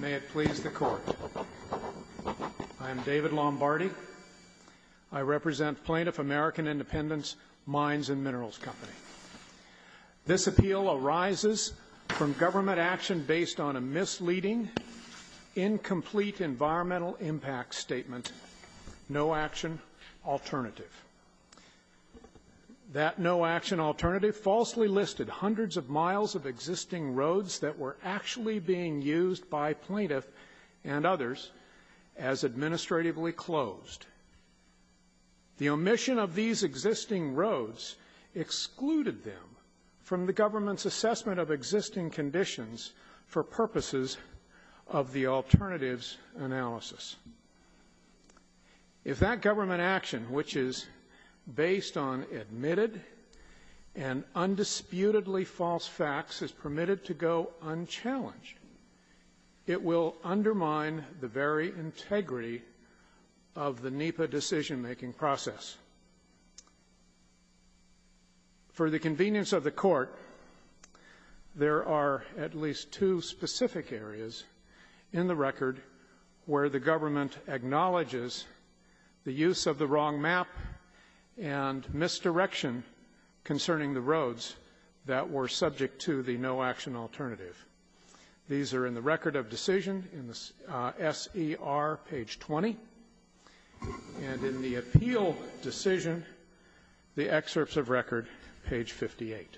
May it please the Court, I am David Lombardi. I represent Plaintiff American Independence Mines & Minerals Co. This appeal arises from government action based on a misleading, incomplete environmental impact statement, no action alternative. That no action alternative falsely listed hundreds of miles of existing roads that were actually being used by plaintiff and others as administratively closed. The omission of these existing roads excluded them from the government's assessment of existing conditions for purposes of the alternatives analysis. If that government action, which is based on admitted and undisputedly false facts is permitted to go unchallenged, it will undermine the very integrity of the NEPA decision-making process. For the convenience of the Court, there are at least two specific areas in the record where the government acknowledges the use of the wrong map and misdirection concerning the roads that were subject to the no action alternative. These are in the record of decision in the SER, page 20, and in the appeal decision, the excerpts of record, page 58.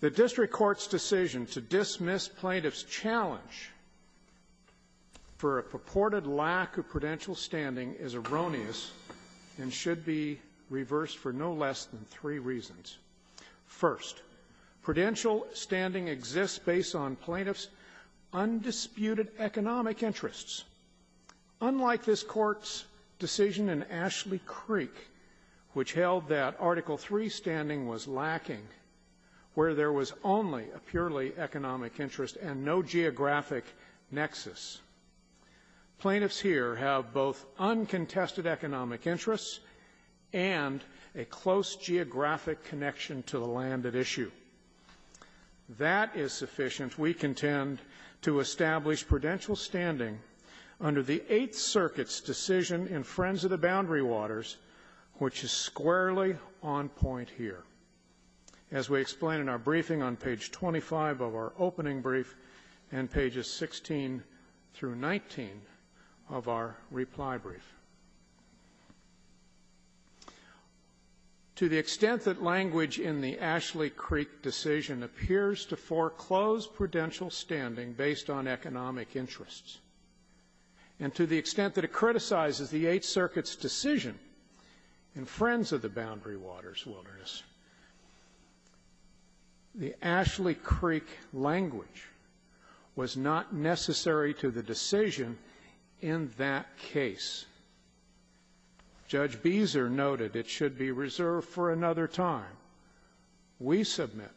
The district court's decision to dismiss plaintiff's challenge for a purported lack of prudential standing is erroneous and should be reversed for no less than three reasons. First, prudential standing exists based on plaintiff's undisputed economic interests. Unlike this Court's decision in Ashley Creek, which held that Article III standing was lacking, where there was only a purely economic interest and no geographic nexus, plaintiffs here have both uncontested economic interests and a close geographic connection to the land at issue. That is sufficient, we contend, to establish prudential standing under the Eighth Circuit's decision in Friends of the Boundary Waters, which is squarely on point here, as we explain in our briefing on page 25 of our opening brief and pages 16 through 19 of our reply brief. To the extent that language in the Ashley Creek decision appears to foreclose prudential standing based on economic interests, and to the extent that it criticizes the Eighth Circuit's decision in Friends of the Boundary Waters Wilderness, the Ashley Creek language was not necessary to the decision in that case. Judge Beezer noted it should be reserved for another time. We submit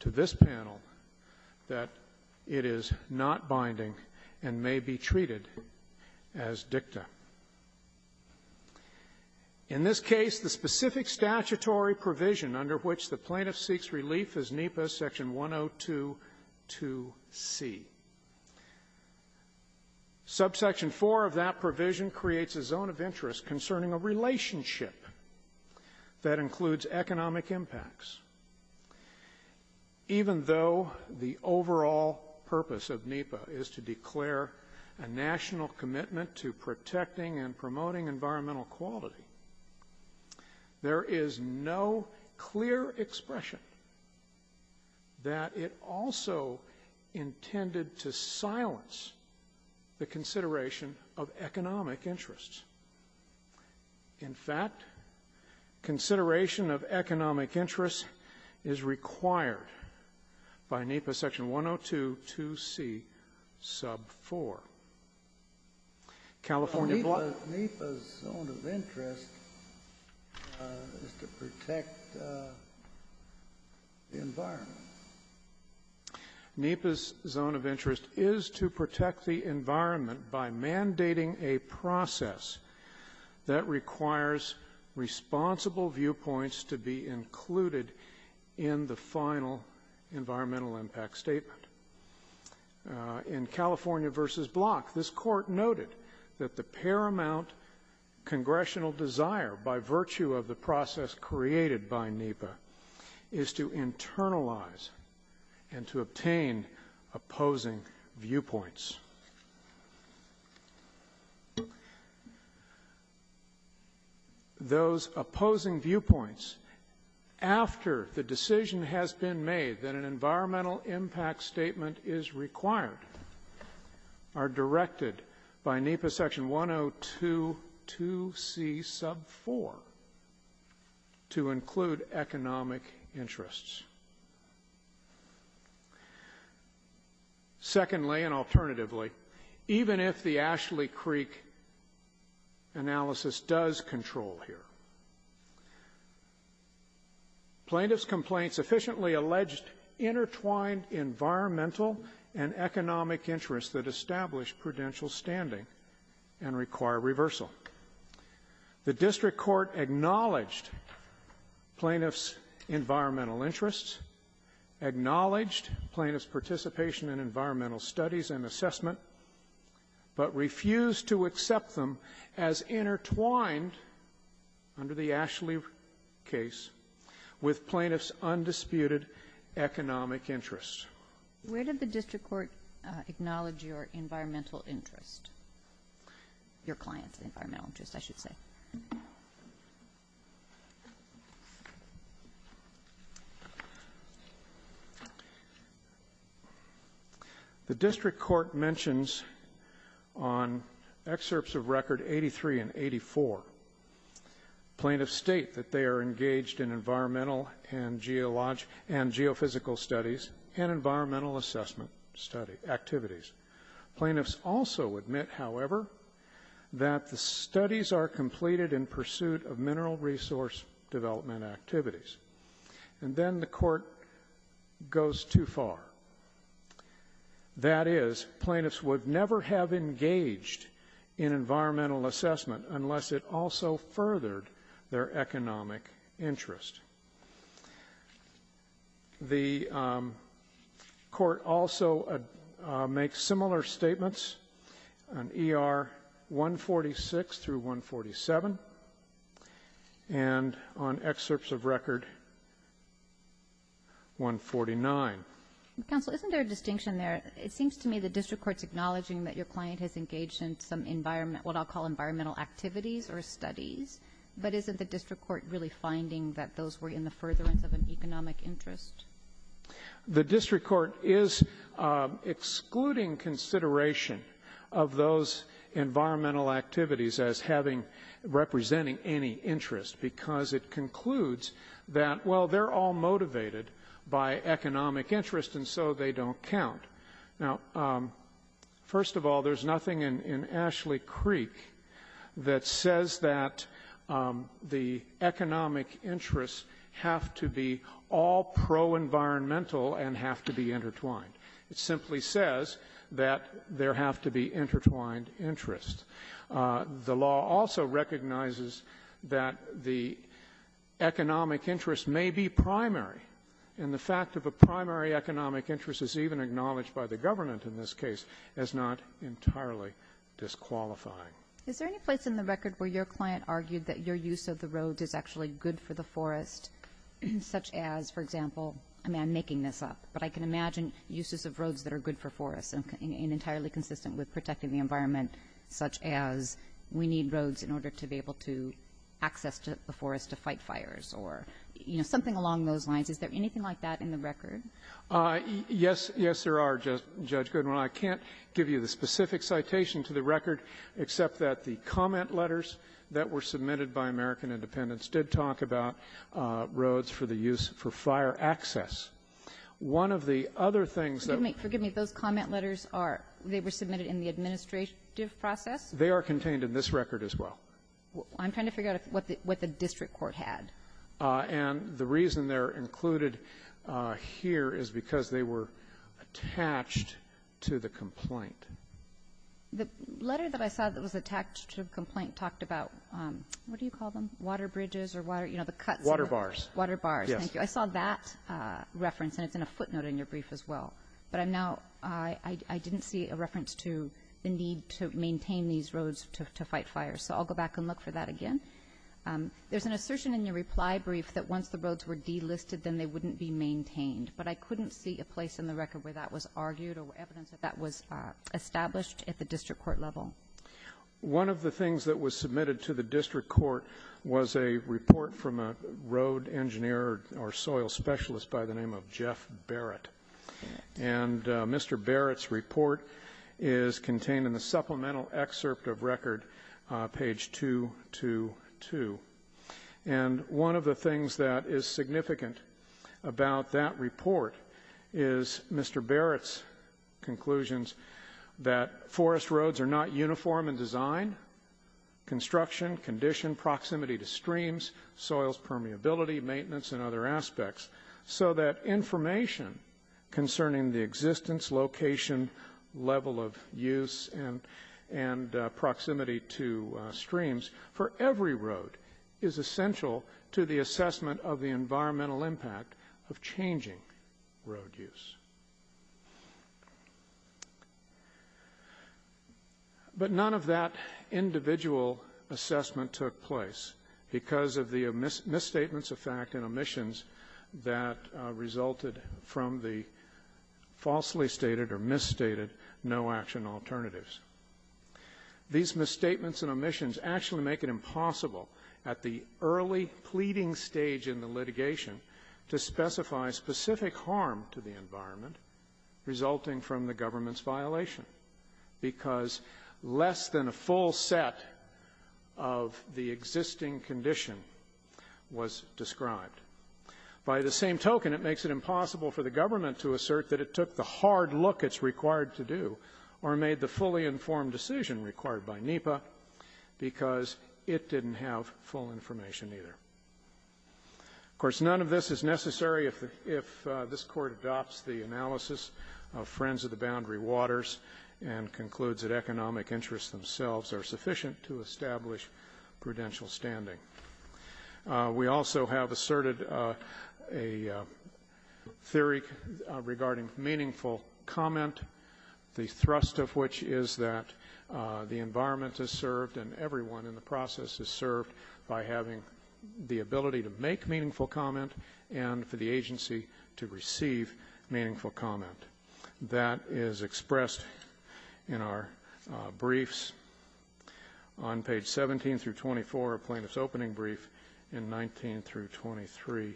to this panel that it is not binding and may be treated as dicta. In this case, the specific statutory provision under which the statute is due to see. Subsection 4 of that provision creates a zone of interest concerning a relationship that includes economic impacts. Even though the overall purpose of NEPA is to declare a national commitment to protecting and promoting environmental quality, there is no clear expression that it also intended to silence the consideration of economic interests. In fact, consideration of economic interests is required by NEPA section to protect the environment. NEPA's zone of interest is to protect the environment by mandating a process that requires responsible viewpoints to be included in the final environmental impact statement. In California v. Block, this Court noted that the paramount congressional desire by virtue of the process created by NEPA is to internalize and to obtain opposing viewpoints. Those opposing viewpoints after the decision has been made that an environmental impact statement is required are directed by NEPA section 1022C sub 4 to include economic interests. Secondly, and thirdly, plaintiff's complaint sufficiently alleged intertwined environmental and economic interests that establish prudential standing and require reversal. The district court acknowledged plaintiff's environmental interests, acknowledged plaintiff's participation in environmental studies and assessment, but refused to accept them as intertwined, under the Ashley case, with plaintiff's undisputed economic interests. Where did the district court acknowledge your environmental interest? Your client's environmental interest, I should say. The district court mentions on excerpts of record 83 and 84, plaintiffs state that they are engaged in environmental and geophysical studies and environmental assessment activities. Plaintiffs also admit, however, that the studies are completed in pursuit of mineral resource development activities. And then the court goes too far. That is, plaintiffs would never have engaged in environmental assessment unless it also furthered their economic interest. The court also makes similar statements on ER 146 through 147 and on excerpts of record 149. Counsel, isn't there a distinction there? It seems to me the district court's acknowledging that your client has engaged in some environment, what I'll call environmental activities or studies, but isn't the district court really finding that those were in the furtherance of an economic interest? The district court is excluding consideration of those environmental activities as having, representing any interest, because it concludes that, well, they're all motivated by economic interest and so they don't count. Now, first of all, there's nothing in Ashley Creek that says that the economic interests have to be all pro-environmental and have to be intertwined. It simply says that there have to be intertwined interests. The law also recognizes that the economic interest may be primary. And the fact of a primary economic interest is even acknowledged by the government in this case as not entirely disqualifying. Is there any place in the record where your client argued that your use of the roads is actually good for the forest, such as, for example, I mean, I'm making this up, but I can imagine uses of roads that are good for forests and entirely consistent with protecting the environment, such as we need roads in order to be able to access to the forest to fight fires or, you know, something along those lines? Is there anything like that in the record? Yes. Yes, there are, Judge Goodwin. I can't give you the specific citation to the record, except that the comment letters that were submitted by American Independence did talk about roads for the use for fire access. One of the other things that we're going to be able to find in the record is that the They are contained in this record as well. I'm trying to figure out what the district court had. And the reason they're included here is because they were attached to the complaint. The letter that I saw that was attached to the complaint talked about, what do you call them, water bridges or water, you know, the cuts? Water bars. Water bars. Yes. Thank you. I saw that reference, and it's in a footnote in your brief as well. But I'm now, I didn't see a reference to the need to maintain these roads to fight fires. So I'll go back and look for that again. There's an assertion in your reply brief that once the roads were delisted, then they wouldn't be maintained. But I couldn't see a place in the record where that was argued or evidence that that was established at the district court level. One of the things that was submitted to the district court was a report from a road engineer or soil specialist by the name of Jeff Barrett. And Mr. Barrett's report is contained in the supplemental excerpt of record, page 222. And one of the things that is significant about that report is Mr. Barrett's conclusions that forest roads are not uniform in design, construction, condition, proximity to streams, soils permeability, maintenance, and other aspects, so that information concerning the existence, location, level of use, and proximity to streams for every road is essential to the assessment of the environmental impact of changing road use. But none of that individual assessment took place because of the misstatements of fact and omissions that resulted from the falsely stated or misstated no action alternatives. These misstatements and omissions actually make it impossible at the early pleading stage in the litigation to specify specific harm to the environment resulting from the government's violation because less than a full set of the existing condition was described. By the same token, it makes it impossible for the government to assert that it took the hard look it's required to do or made the fully informed decision required by NEPA because it didn't have full information either. Of course, none of this is necessary if this court adopts the analysis of Friends of the Boundary Waters and concludes that economic interests themselves are sufficient to establish prudential standing. We also have asserted a theory regarding meaningful comment, the thrust of which is that the environment is served and everyone in the process is served by having the ability to make meaningful comment and for the agency to receive meaningful comment. That is expressed in our briefs on page 17 through 24 of Plaintiff's Opening Brief and 19 through 23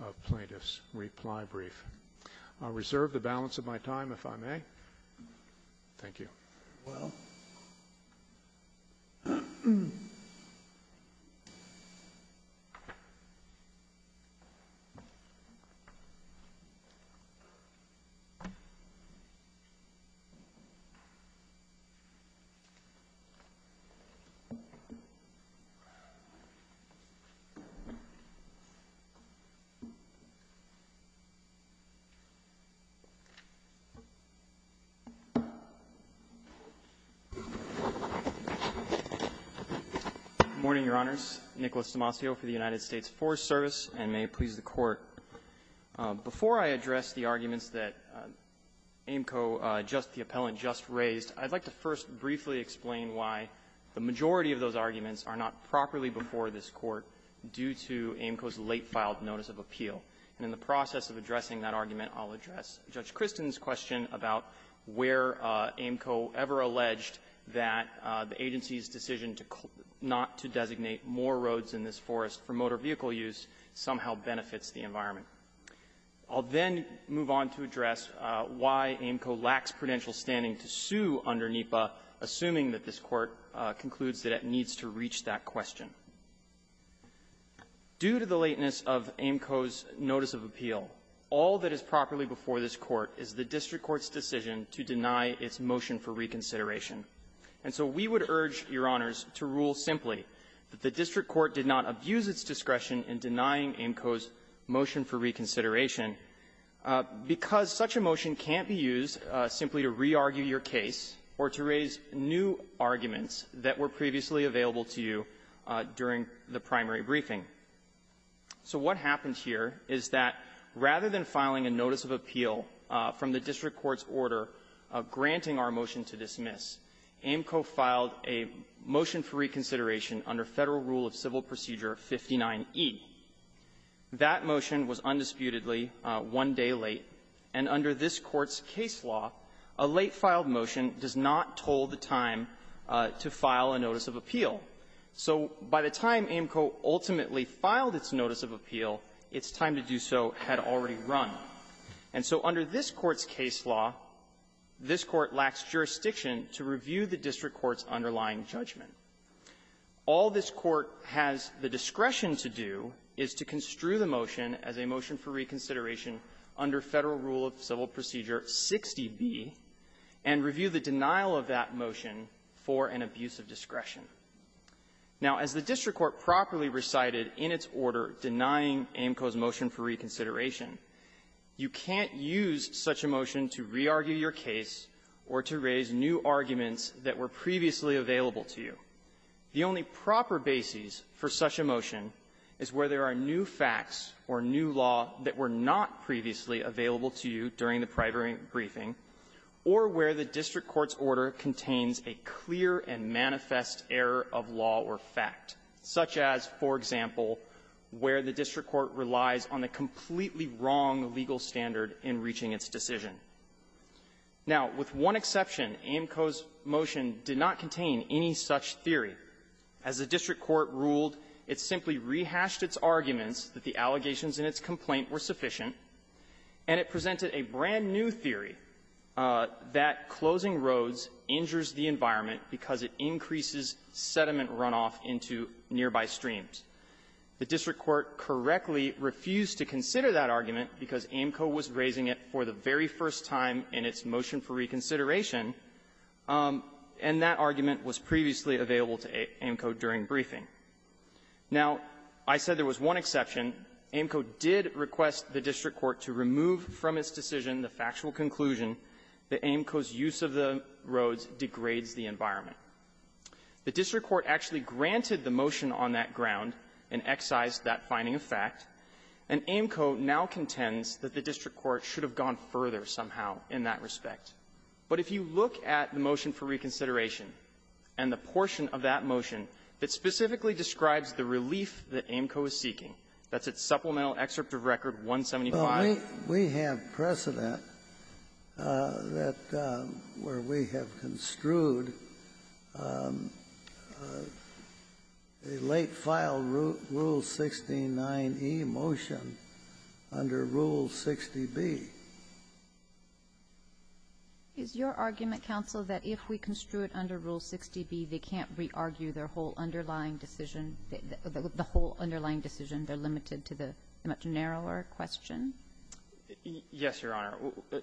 of Plaintiff's Reply Brief. I'll reserve the balance of my time if I may. Thank you. Very well. Good morning, Your Honors. Nicholas D'Amacio for the United States Forest Service, and may it please the Court. Before I address the arguments that AAMCO just the appellant just raised, I'd like to first briefly explain why the majority of those arguments are not properly before this Court due to AAMCO's late-filed notice of appeal. And in the process of addressing that argument, I'll address Judge Kristen's question about where AAMCO ever alleged that the agency's decision to not to designate more roads in this forest for motor vehicle use somehow benefits the environment. I'll then move on to address why AAMCO lacks prudential standing to sue under NEPA, assuming that this Court concludes that it needs to reach that question. Due to the lateness of AAMCO's notice of appeal, all that is properly before this Court is the district court's decision to deny its motion for reconsideration. And so we would urge, Your Honors, to rule simply that the district court did not abuse its discretion in denying AAMCO's motion for reconsideration, because such a motion can't be used simply to re-argue your case or to raise new arguments that were previously available to you during the primary briefing. So what happened here is that rather than filing a notice of appeal from the district court's order granting our motion to dismiss, AAMCO filed a motion for reconsideration under Federal Rule of Civil Procedure 59e. That motion was undisputedly one day late, and under this Court's case law, a late-filed motion does not toll the time to file a notice of appeal. So by the time AAMCO ultimately filed its notice of appeal, its time to do so had already run. And so under this Court's case law, this Court lacks jurisdiction to review the district court's underlying judgment. All this Court has the discretion to do is to construe the motion as a motion for reconsideration under Federal Rule of Civil Procedure 60b, and review the denial of that motion for an abuse of discretion. Now, as the AAMCO's motion for reconsideration, you can't use such a motion to re-argue your case or to raise new arguments that were previously available to you. The only proper basis for such a motion is where there are new facts or new law that were not previously available to you during the primary briefing, or where the district court's order contains a clear and manifest error of law or fact, such as, for example, where the district court relies on a completely wrong legal standard in reaching its decision. Now, with one exception, AAMCO's motion did not contain any such theory. As the district court ruled, it simply rehashed its arguments that the allegations in its complaint were sufficient, and it presented a brand-new theory that closing roads injures the environment because it increases sediment runoff into nearby streams. The district court correctly refused to consider that argument because AAMCO was raising it for the very first time in its motion for reconsideration, and that argument was previously available to AAMCO during briefing. Now, I said there was one exception. AAMCO did request the district court to remove from its decision the factual conclusion that AAMCO's use of the roads degrades the environment. The district court actually granted the motion on that ground and excised that finding of fact, and AAMCO now contends that the district court should have gone further somehow in that respect. But if you look at the motion for reconsideration and the portion of that motion that specifically describes the relief that AAMCO is seeking, that's its supplemental excerpt of Record 175. Well, we have precedent that we have construed a late-filed Rule 69e motion under Rule 60b. Is your argument, counsel, that if we construed under Rule 60b, they can't re-argue their whole underlying decision, the whole underlying decision? They're limited to the much narrower question? Yes, Your Honor.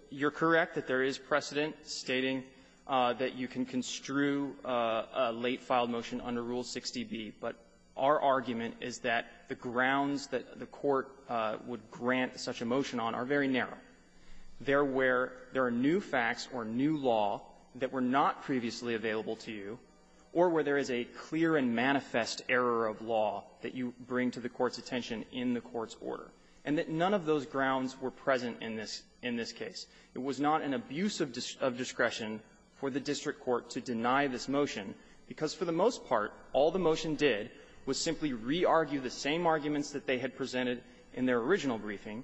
You're correct that there is precedent stating that you can construe a late-filed motion under Rule 60b, but our argument is that the grounds that the court would grant such a motion on are very narrow. They're where there are new facts or new law that were not previously available to you, or where there is a clear and manifest error of law that you bring to the court's order, and that none of those grounds were present in this case. It was not an abuse of discretion for the district court to deny this motion, because for the most part, all the motion did was simply re-argue the same arguments that they had presented in their original briefing,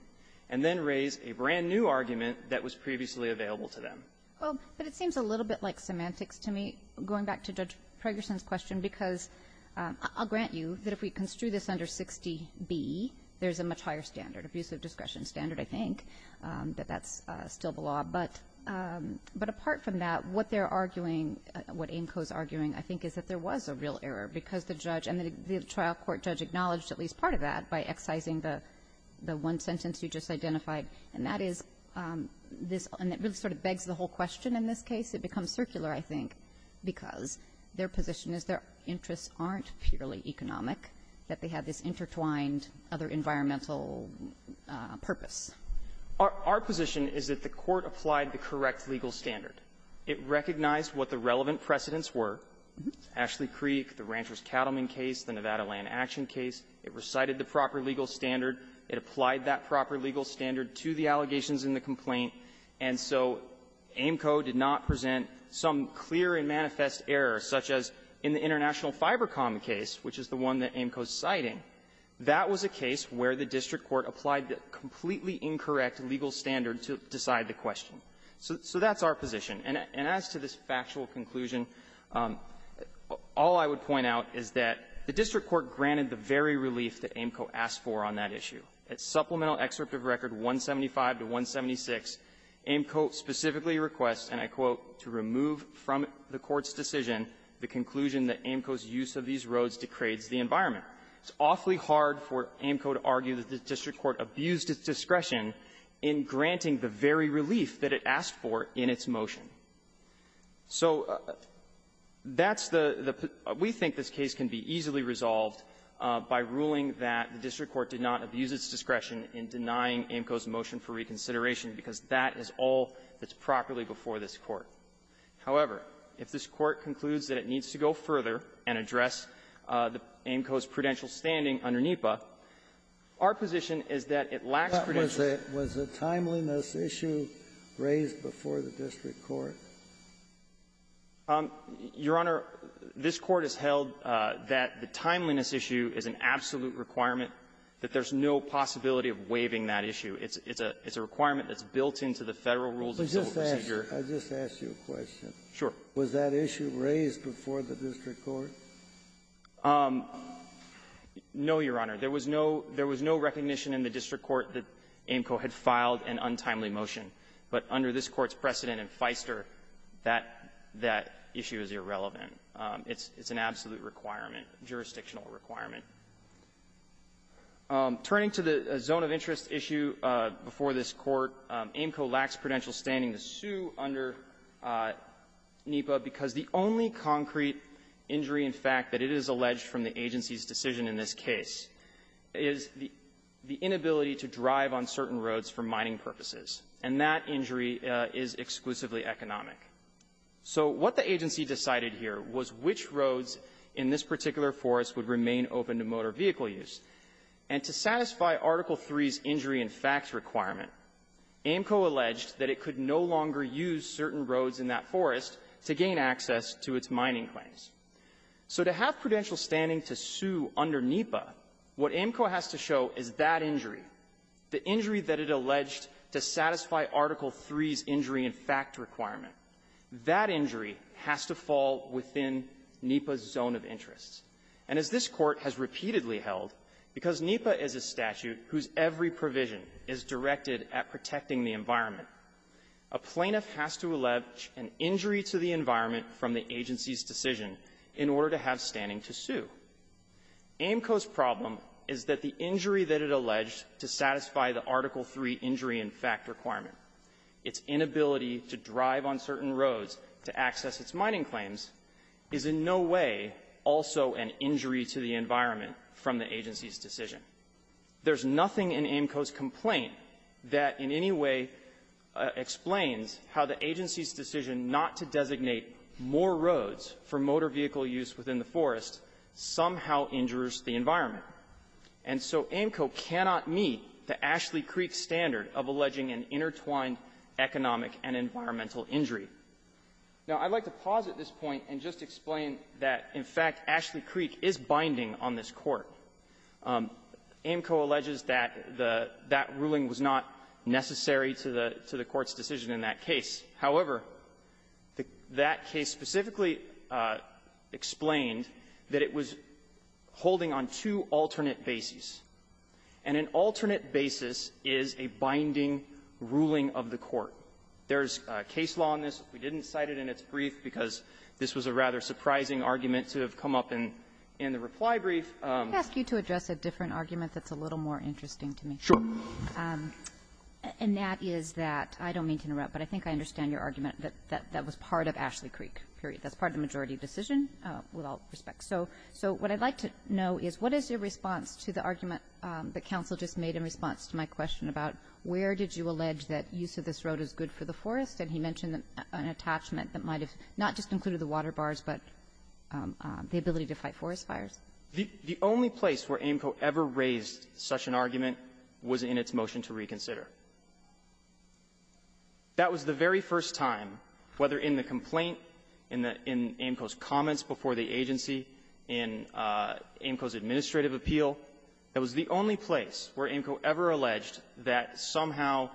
and then raise a brand-new argument that was previously available to them. Well, but it seems a little bit like semantics to me, going back to Judge Pregerson's question, because I'll grant you that if we construe this under 60b, there is a much higher standard, abuse of discretion standard, I think, that that's still the law. But apart from that, what they're arguing, what AMCO is arguing, I think, is that there was a real error, because the judge and the trial court judge acknowledged at least part of that by excising the one sentence you just identified, and that is this one that really sort of begs the whole question in this case. It becomes circular, I think, because their position is their interests aren't purely economic, that they have this intertwined other environmental purpose. Our position is that the Court applied the correct legal standard. It recognized what the relevant precedents were, Ashley Creek, the Rancher's Cattleman case, the Nevada Land Action case. It recited the proper legal standard. It applied that proper legal standard to the allegations in the complaint. And so AMCO did not present some clear and manifest error, such as in the International Fiber Com case, which is the one that AMCO is citing. That was a case where the district court applied the completely incorrect legal standard to decide the question. So that's our position. And as to this factual conclusion, all I would point out is that the district court granted the very relief that AMCO asked for on that issue. At Supplemental Excerpt of Record 175-176, AMCO specifically requests, and I quote, to remove from the Court's decision the conclusion that AMCO's use of these roads degrades the environment. It's awfully hard for AMCO to argue that the district court abused its discretion in granting the very relief that it asked for in its motion. So that's the the we think this case can be easily resolved by ruling that the district court did not abuse its discretion in denying AMCO's motion for reconsideration, because that is all that's properly before this Court. However, if this Court concludes that it needs to go further and address the AMCO's prudential standing under NEPA, our position is that it lacks prudential standing. Kennedy. Was the timeliness issue raised before the district court? Your Honor, this Court has held that the timeliness issue is an absolute requirement that there's no possibility of waiving that issue. It's a requirement that's built into the Federal Rules of Civil Procedure. I just ask you a question. Sure. Was that issue raised before the district court? No, Your Honor. There was no recognition in the district court that AMCO had filed an untimely motion. But under this Court's precedent in Feister, that issue is irrelevant. It's an absolute requirement, jurisdictional requirement. Turning to the zone of interest issue before this Court, AMCO lacks prudential standing to sue under NEPA because the only concrete injury, in fact, that it is alleged from the agency's decision in this case is the inability to drive on certain roads for mining purposes. And that injury is exclusively economic. So what the agency decided here was which roads in this particular forest would remain open to motor vehicle use. And to satisfy Article III's injury-in-fact requirement, AMCO alleged that it could no longer use certain roads in that forest to gain access to its mining claims. So to have prudential standing to sue under NEPA, what AMCO has to show is that injury, the injury that it alleged to satisfy Article III's injury-in-fact requirement. That injury has to fall within NEPA's zone of interest. And as this Court has repeatedly held, because NEPA is a statute whose every provision is directed at protecting the environment, a plaintiff has to allege an injury to the environment from the agency's decision in order to have standing to sue. AMCO's problem is that the injury that it alleged to satisfy the Article III injury-in-fact requirement, its inability to drive on certain roads to access its mining claims, is in no way also an injury to the environment from the agency's decision. There's nothing in AMCO's complaint that in any way explains how the agency's decision not to designate more roads for motor vehicle use within the forest somehow injures the environment. And so AMCO cannot meet the Ashley Creek standard of alleging an intertwined economic and environmental injury. Now, I'd like to pause at this point and just explain that, in fact, Ashley Creek is binding on this Court. AMCO alleges that the that ruling was not necessary to the to the Court's decision in that case. However, that case specifically explained that it was holding on two alternate bases, and an alternate basis is a binding ruling of the Court. There's case law on this. We didn't cite it in its brief because this was a rather surprising argument to have come up in the reply brief. Kagan. Kagan. I'd like to ask you to address a different argument that's a little more interesting to me. Roberts. Sure. And that is that, I don't mean to interrupt, but I think I understand your argument that that was part of Ashley Creek, period. That's part of the majority decision, with all respect. So what I'd like to know is, what is your response to the argument that counsel just made in response to my question about where did you allege that use of this road is good for the forest? And he mentioned an attachment that might have not just included the water bars, but the ability to fight forest fires. The only place where AMCO ever raised such an argument was in its motion to reconsider. That was the very first time, whether in the complaint, in the AMCO's comments before the agency, in AMCO's administrative appeal. That was the only place where AMCO ever alleged that somehow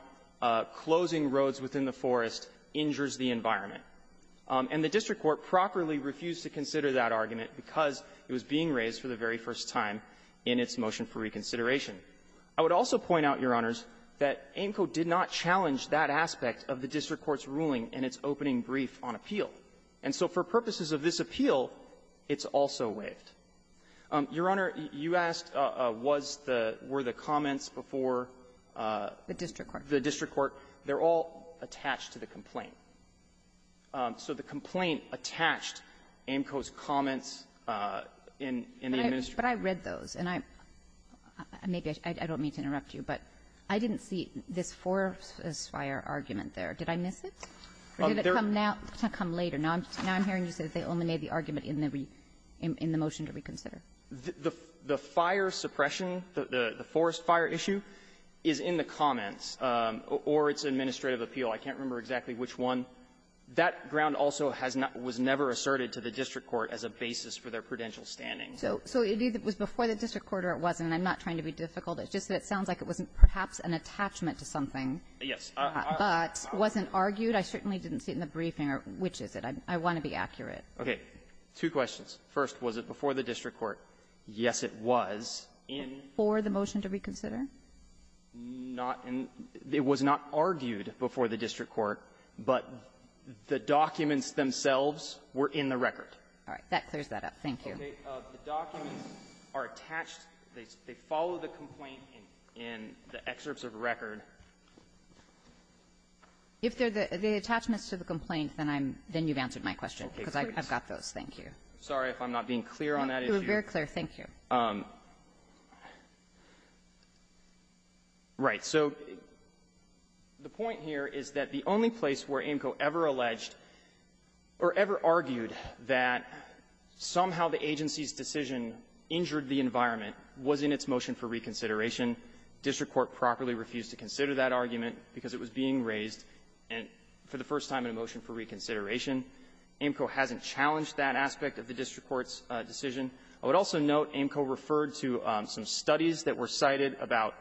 closing roads within the forest injures the environment. And the district court properly refused to consider that argument because it was being raised for the very first time in its motion for reconsideration. I would also point out, Your Honors, that AMCO did not challenge that aspect of the district court's ruling in its opening brief on appeal. And so for purposes of this appeal, it's also waived. Your Honor, you asked, was the --" were the comments before the district court. They're all attached to the complaint. So the complaint attached AMCO's comments in the administration. Kagan. But I read those. And I don't mean to interrupt you, but I didn't see this forest fire argument there. Did I miss it? Did it come now? It's going to come later. Now I'm hearing you say they only made the argument in the motion to reconsider. The fire suppression, the forest fire issue, is in the comments or its administrative appeal. I can't remember exactly which one. That ground also has not been asserted to the district court as a basis for their prudential standing. So it was before the district court or it wasn't. And I'm not trying to be difficult. It's just that it sounds like it was perhaps an attachment to something. Yes. But wasn't argued. I certainly didn't see it in the briefing. Or which is it? I want to be accurate. Okay. Two questions. First, was it before the district court? Yes, it was. In the ---- For the motion to reconsider? Not in the ---- it was not argued before the district court. But the documents themselves were in the record. All right. That clears that up. Thank you. The documents are attached. They follow the complaint in the excerpts of record. If they're the attachments to the complaint, then I'm ---- then you've answered my question. Okay. Because I've got those. Thank you. Sorry if I'm not being clear on that issue. You were very clear. Thank you. Right. So the point here is that the only place where AAMCO ever alleged or ever argued that somehow the agency's decision injured the environment was in its motion for reconsideration. District court properly refused to consider that argument because it was being raised and for the first time in a motion for reconsideration. AAMCO hasn't challenged that aspect of the district court's decision. I would also note AAMCO referred to some studies that were cited about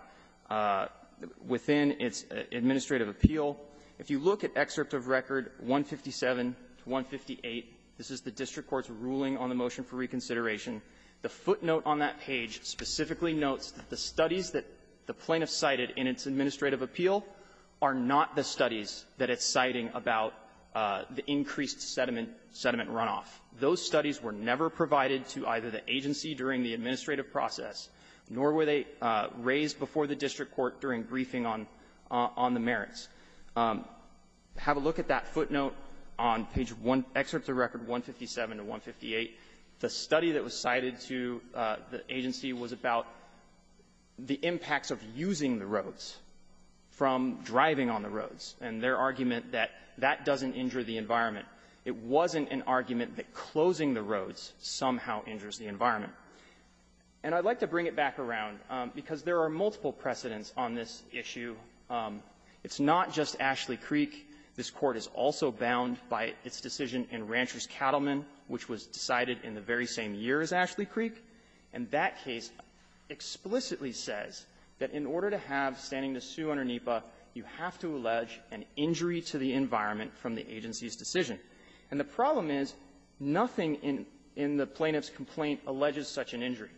within its administrative appeal. If you look at excerpt of record 157 to 158, this is the district court's ruling on the motion for reconsideration. The footnote on that page specifically notes that the studies that the plaintiff cited in its administrative appeal are not the studies that it's citing about the increased sediment runoff. Those studies were never provided to either the agency during the administrative process, nor were they raised before the district court during briefing on the merits. Have a look at that footnote on page one, excerpt of record 157 to 158. The study that was cited to the agency was about the impacts of using the roads from driving on the roads and their argument that that doesn't injure the environment. It wasn't an argument that closing the roads somehow injures the environment. And I'd like to bring it back around because there are multiple precedents on this issue. It's not just Ashley Creek. This Court is also bound by its decision in Rancher's Cattlemen, which was decided in the very same year as Ashley Creek. And that case explicitly says that in order to have standing to sue under NEPA, you have to allege an injury to the environment from the agency's decision. And the problem is nothing in the plaintiff's complaint alleges such an injury.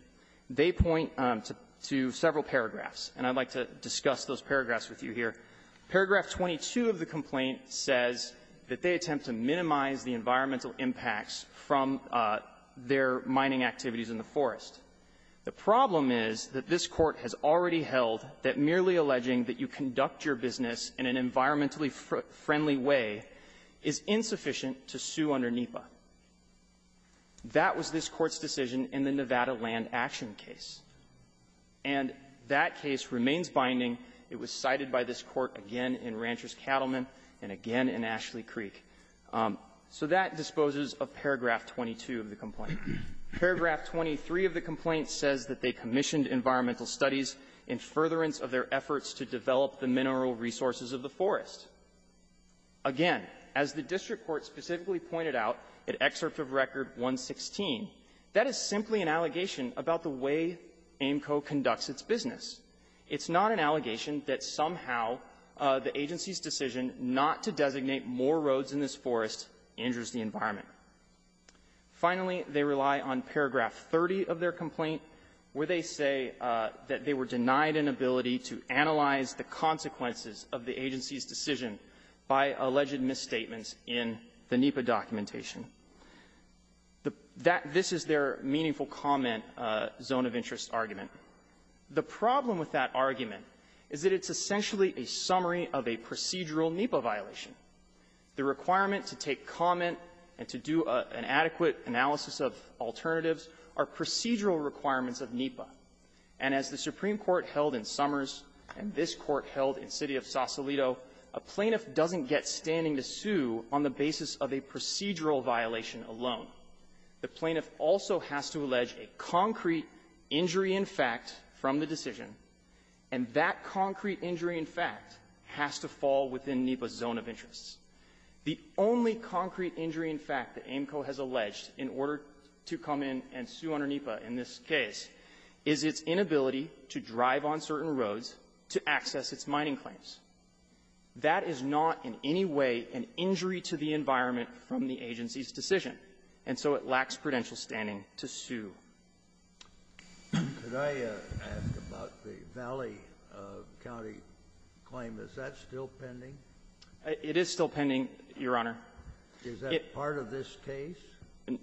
They point to several paragraphs, and I'd like to discuss those paragraphs with you here. Paragraph 22 of the complaint says that they attempt to minimize the environmental impacts from their mining activities in the forest. The problem is that this Court has already held that merely alleging that you conduct your business in an environmentally friendly way is insufficient to sue under NEPA. That was this Court's decision in the Nevada Land Action case. And that case remains binding. It was cited by this Court again in Rancher's Cattlemen and again in Ashley Creek. So that disposes of paragraph 22 of the complaint. Paragraph 23 of the complaint says that they commissioned environmental studies in furtherance of their efforts to develop the mineral resources of the forest. Again, as the district court specifically pointed out in Excerpt of Record 116, that is simply an allegation about the way AAMCO conducts its business. It's not an allegation that somehow the agency's decision not to designate more roads in this forest injures the environment. Finally, they rely on paragraph 30 of their complaint, where they say that they were denied an ability to analyze the consequences of the agency's decision by alleged misstatements in the NEPA documentation. That this is their meaningful comment zone of interest argument. The problem with that argument is that it's essentially a summary of a procedural NEPA violation. The requirement to take comment and to do an adequate analysis of alternatives are procedural requirements of NEPA. And as the Supreme Court held in Summers and this Court held in City of Sausalito a plaintiff doesn't get standing to sue on the basis of a procedural violation alone. The plaintiff also has to allege a concrete injury in fact from the decision. And that concrete injury in fact has to fall within NEPA's zone of interest. The only concrete injury in fact that AAMCO has alleged in order to come in and sue under NEPA in this case is its inability to drive on certain roads to access its mining claims. That is not in any way an injury to the environment from the agency's decision. And so it lacks prudential standing to sue. Kennedy. Did I ask about the Valley County claim? Is that still pending? It is still pending, Your Honor. Is that part of this case?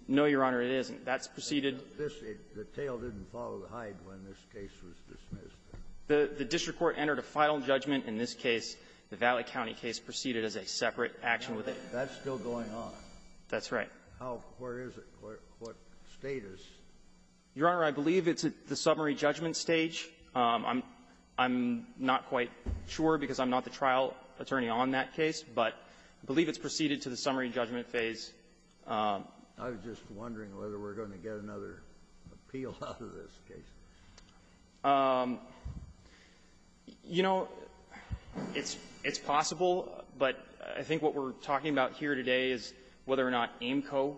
No, Your Honor. It isn't. That's preceded. This is the tail didn't follow the hide when this case was dismissed. The district court entered a final judgment in this case. The Valley County case proceeded as a separate action within. That's still going on. That's right. Where is it? What State is? Your Honor, I believe it's at the summary judgment stage. I'm not quite sure because I'm not the trial attorney on that case, but I believe it's proceeded to the summary judgment phase. I was just wondering whether we're going to get another appeal out of this case. You know, it's possible, but I think what we're talking about here today is whether or not AIMCO,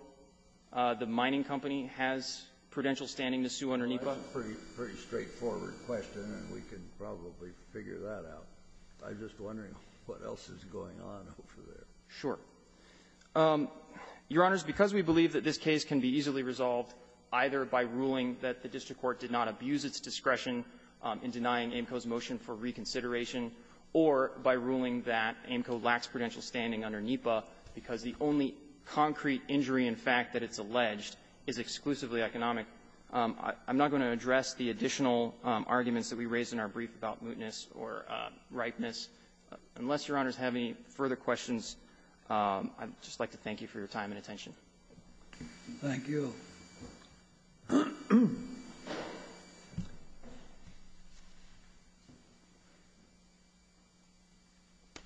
the mining company, has prudential standing to sue under NEPA. That's a pretty straightforward question, and we can probably figure that out. I'm just wondering what else is going on over there. Sure. Your Honors, because we believe that this case can be easily resolved either by ruling that the district court did not abuse its discretion in denying AIMCO's motion for reconsideration, or by ruling that AIMCO lacks prudential standing under NEPA because the only concrete injury, in fact, that it's alleged is exclusively economic, I'm not going to address the additional arguments that we raised in our brief about mootness or ripeness. Unless Your Honors have any further questions, I'd just like to thank you for your time and attention. Thank you. Thank you. Thank you. Thank you. Thank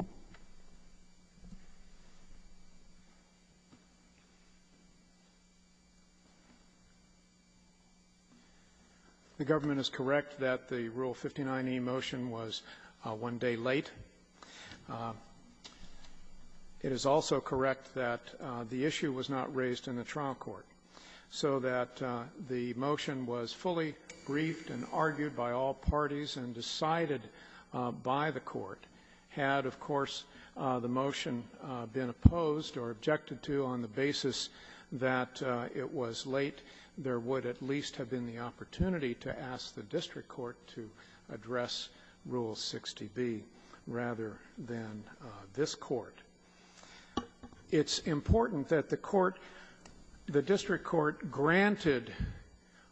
you. It is also correct that the issue was not raised in the trial court, so that the motion was fully briefed and argued by all parties and decided by the court. Had, of course, the motion been opposed or objected to on the basis that it was late, there would at least have been the opportunity to ask the district court to rather than this court. It's important that the court, the district court, granted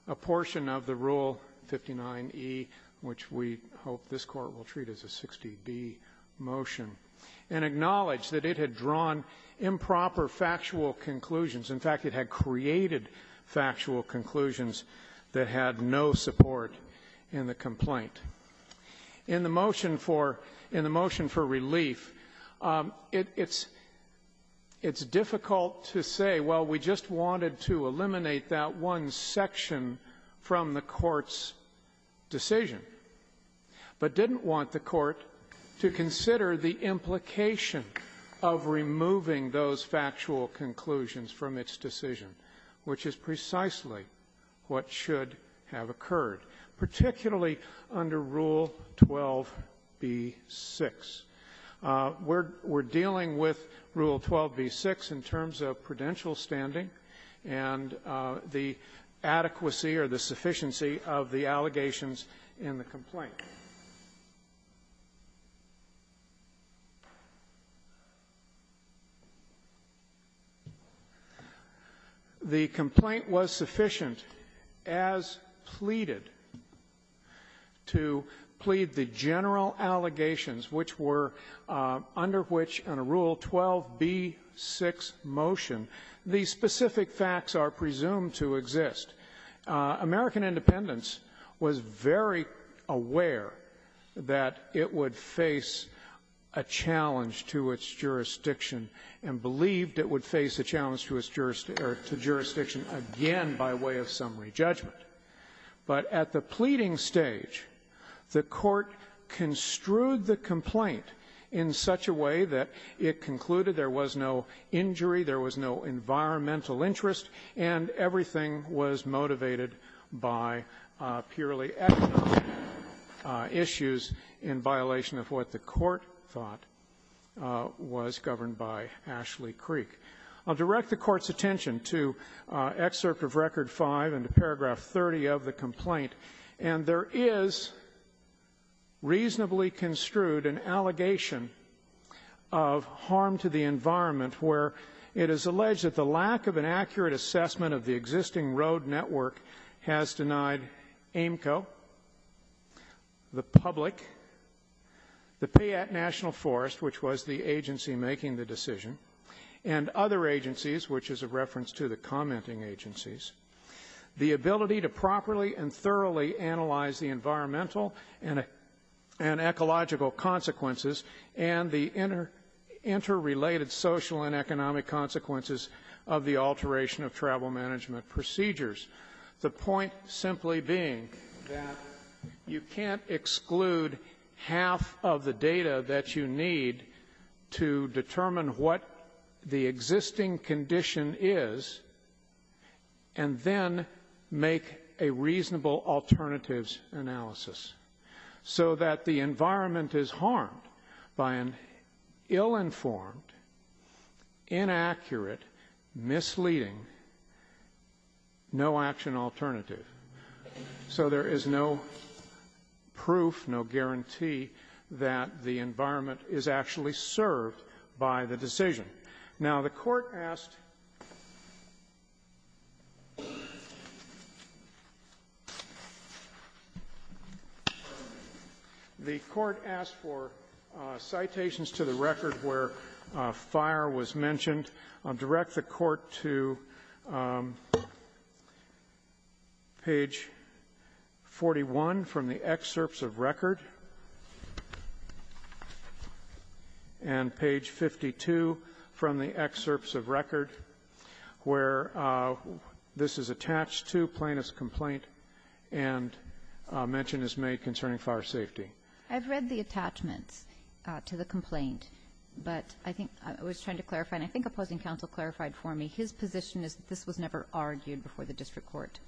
a portion of the Rule 59E, which we hope this court will treat as a 60B motion, and acknowledged that it had drawn improper factual conclusions. In fact, it had created factual conclusions that had no support in the complaint. In the motion for in the motion for relief, it's it's difficult to say, well, we just wanted to eliminate that one section from the court's decision, but didn't want the court to consider the implication of removing those factual conclusions from its decision, which is precisely what should have occurred, particularly under Rule 12B6. We're dealing with Rule 12B6 in terms of prudential standing and the adequacy or the sufficiency of the allegations in the complaint. The complaint was sufficient, as pleaded, to plead the general allegations, which were under which, under Rule 12B6 motion, the specific facts are presumed to exist. American Independence was very aware that it would face a challenge to its jurisdiction and believed it would face a challenge to its jurisdiction again by way of summary judgment. But at the pleading stage, the court construed the complaint in such a way that it concluded there was no injury, there was no environmental interest, and everything was motivated by purely ethical issues in violation of what the court thought was governed by Ashley Creek. I'll direct the Court's attention to Excerpt of Record V and to paragraph 30 of the Harm to the Environment, where it is alleged that the lack of an accurate assessment of the existing road network has denied AAMCO, the public, the Payette National Forest, which was the agency making the decision, and other agencies, which is a reference to the commenting agencies, the ability to properly and thoroughly analyze the environmental and ecological consequences and the interrelated social and economic consequences of the alteration of travel management procedures. The point simply being that you can't exclude half of the data that you need to determine what the existing condition is and then make a reasonable alternatives analysis, so that the environment is harmed by an ill-informed, inaccurate, misleading, no-action alternative. So there is no proof, no guarantee that the environment is actually served by the data that was used to make the decision. Now, the Court asked the Court asked for citations to the record where fire was mentioned. I'll direct the Court to page 41 from the Excerpts of Record, and page 52 from the Excerpts of Record, where this is attached to plaintiff's complaint and a mention is made concerning fire safety. I've read the attachments to the complaint, but I think I was trying to clarify, and I think opposing counsel clarified for me, his position is that this was never argued before the district court,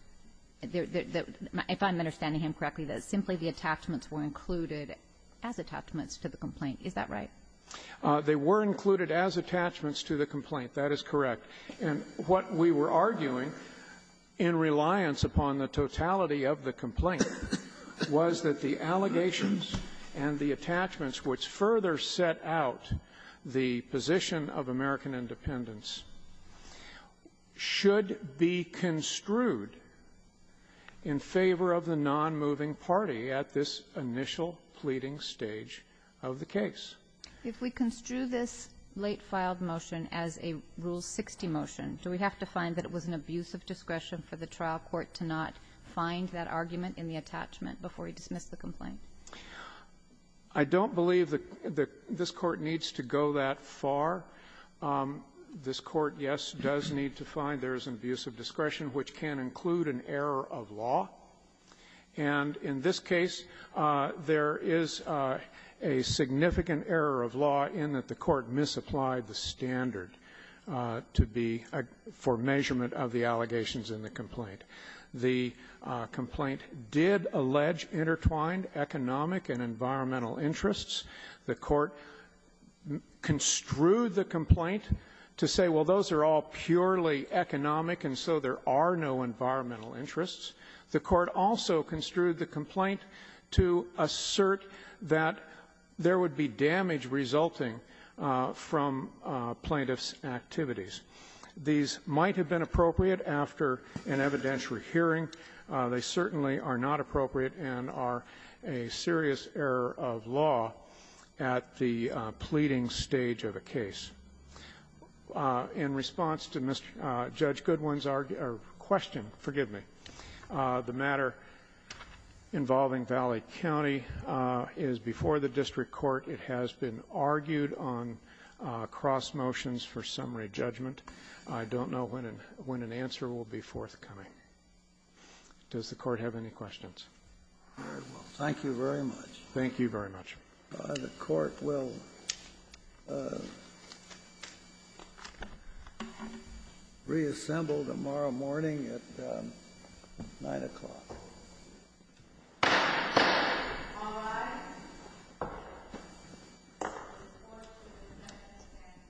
if I'm understanding him correctly, that simply the attachments were included as attachments to the complaint, is that right? They were included as attachments to the complaint. That is correct. And what we were arguing in reliance upon the totality of the complaint was that the allegations and the attachments which further set out the position of American independence should be construed in favor of the nonmoving party at this initial pleading stage of the case. If we construe this late filed motion as a Rule 60 motion, do we have to find that it was an abuse of discretion for the trial court to not find that argument in the attachment before he dismissed the complaint? I don't believe that this Court needs to go that far. This Court, yes, does need to find there is an abuse of discretion, which can include an error of law. And in this case, there is a significant error of law in that the Court misapplied the standard to be for measurement of the allegations in the complaint. The complaint did allege intertwined economic and environmental interests. The Court construed the complaint to say, well, those are all purely economic, and so there are no environmental interests. The Court also construed the complaint to assert that there would be damage resulting from plaintiff's activities. These might have been appropriate after an evidentiary hearing. They certainly are not appropriate and are a serious error of law at the pleading stage of a case. In response to Judge Goodwin's question, forgive me, the matter involving Valley County is before the district court. It has been argued on cross motions for summary judgment. I don't know when an answer will be forthcoming. Does the Court have any questions? Very well. Thank you very much. Thank you very much. The Court will reassemble tomorrow morning at 9 o'clock.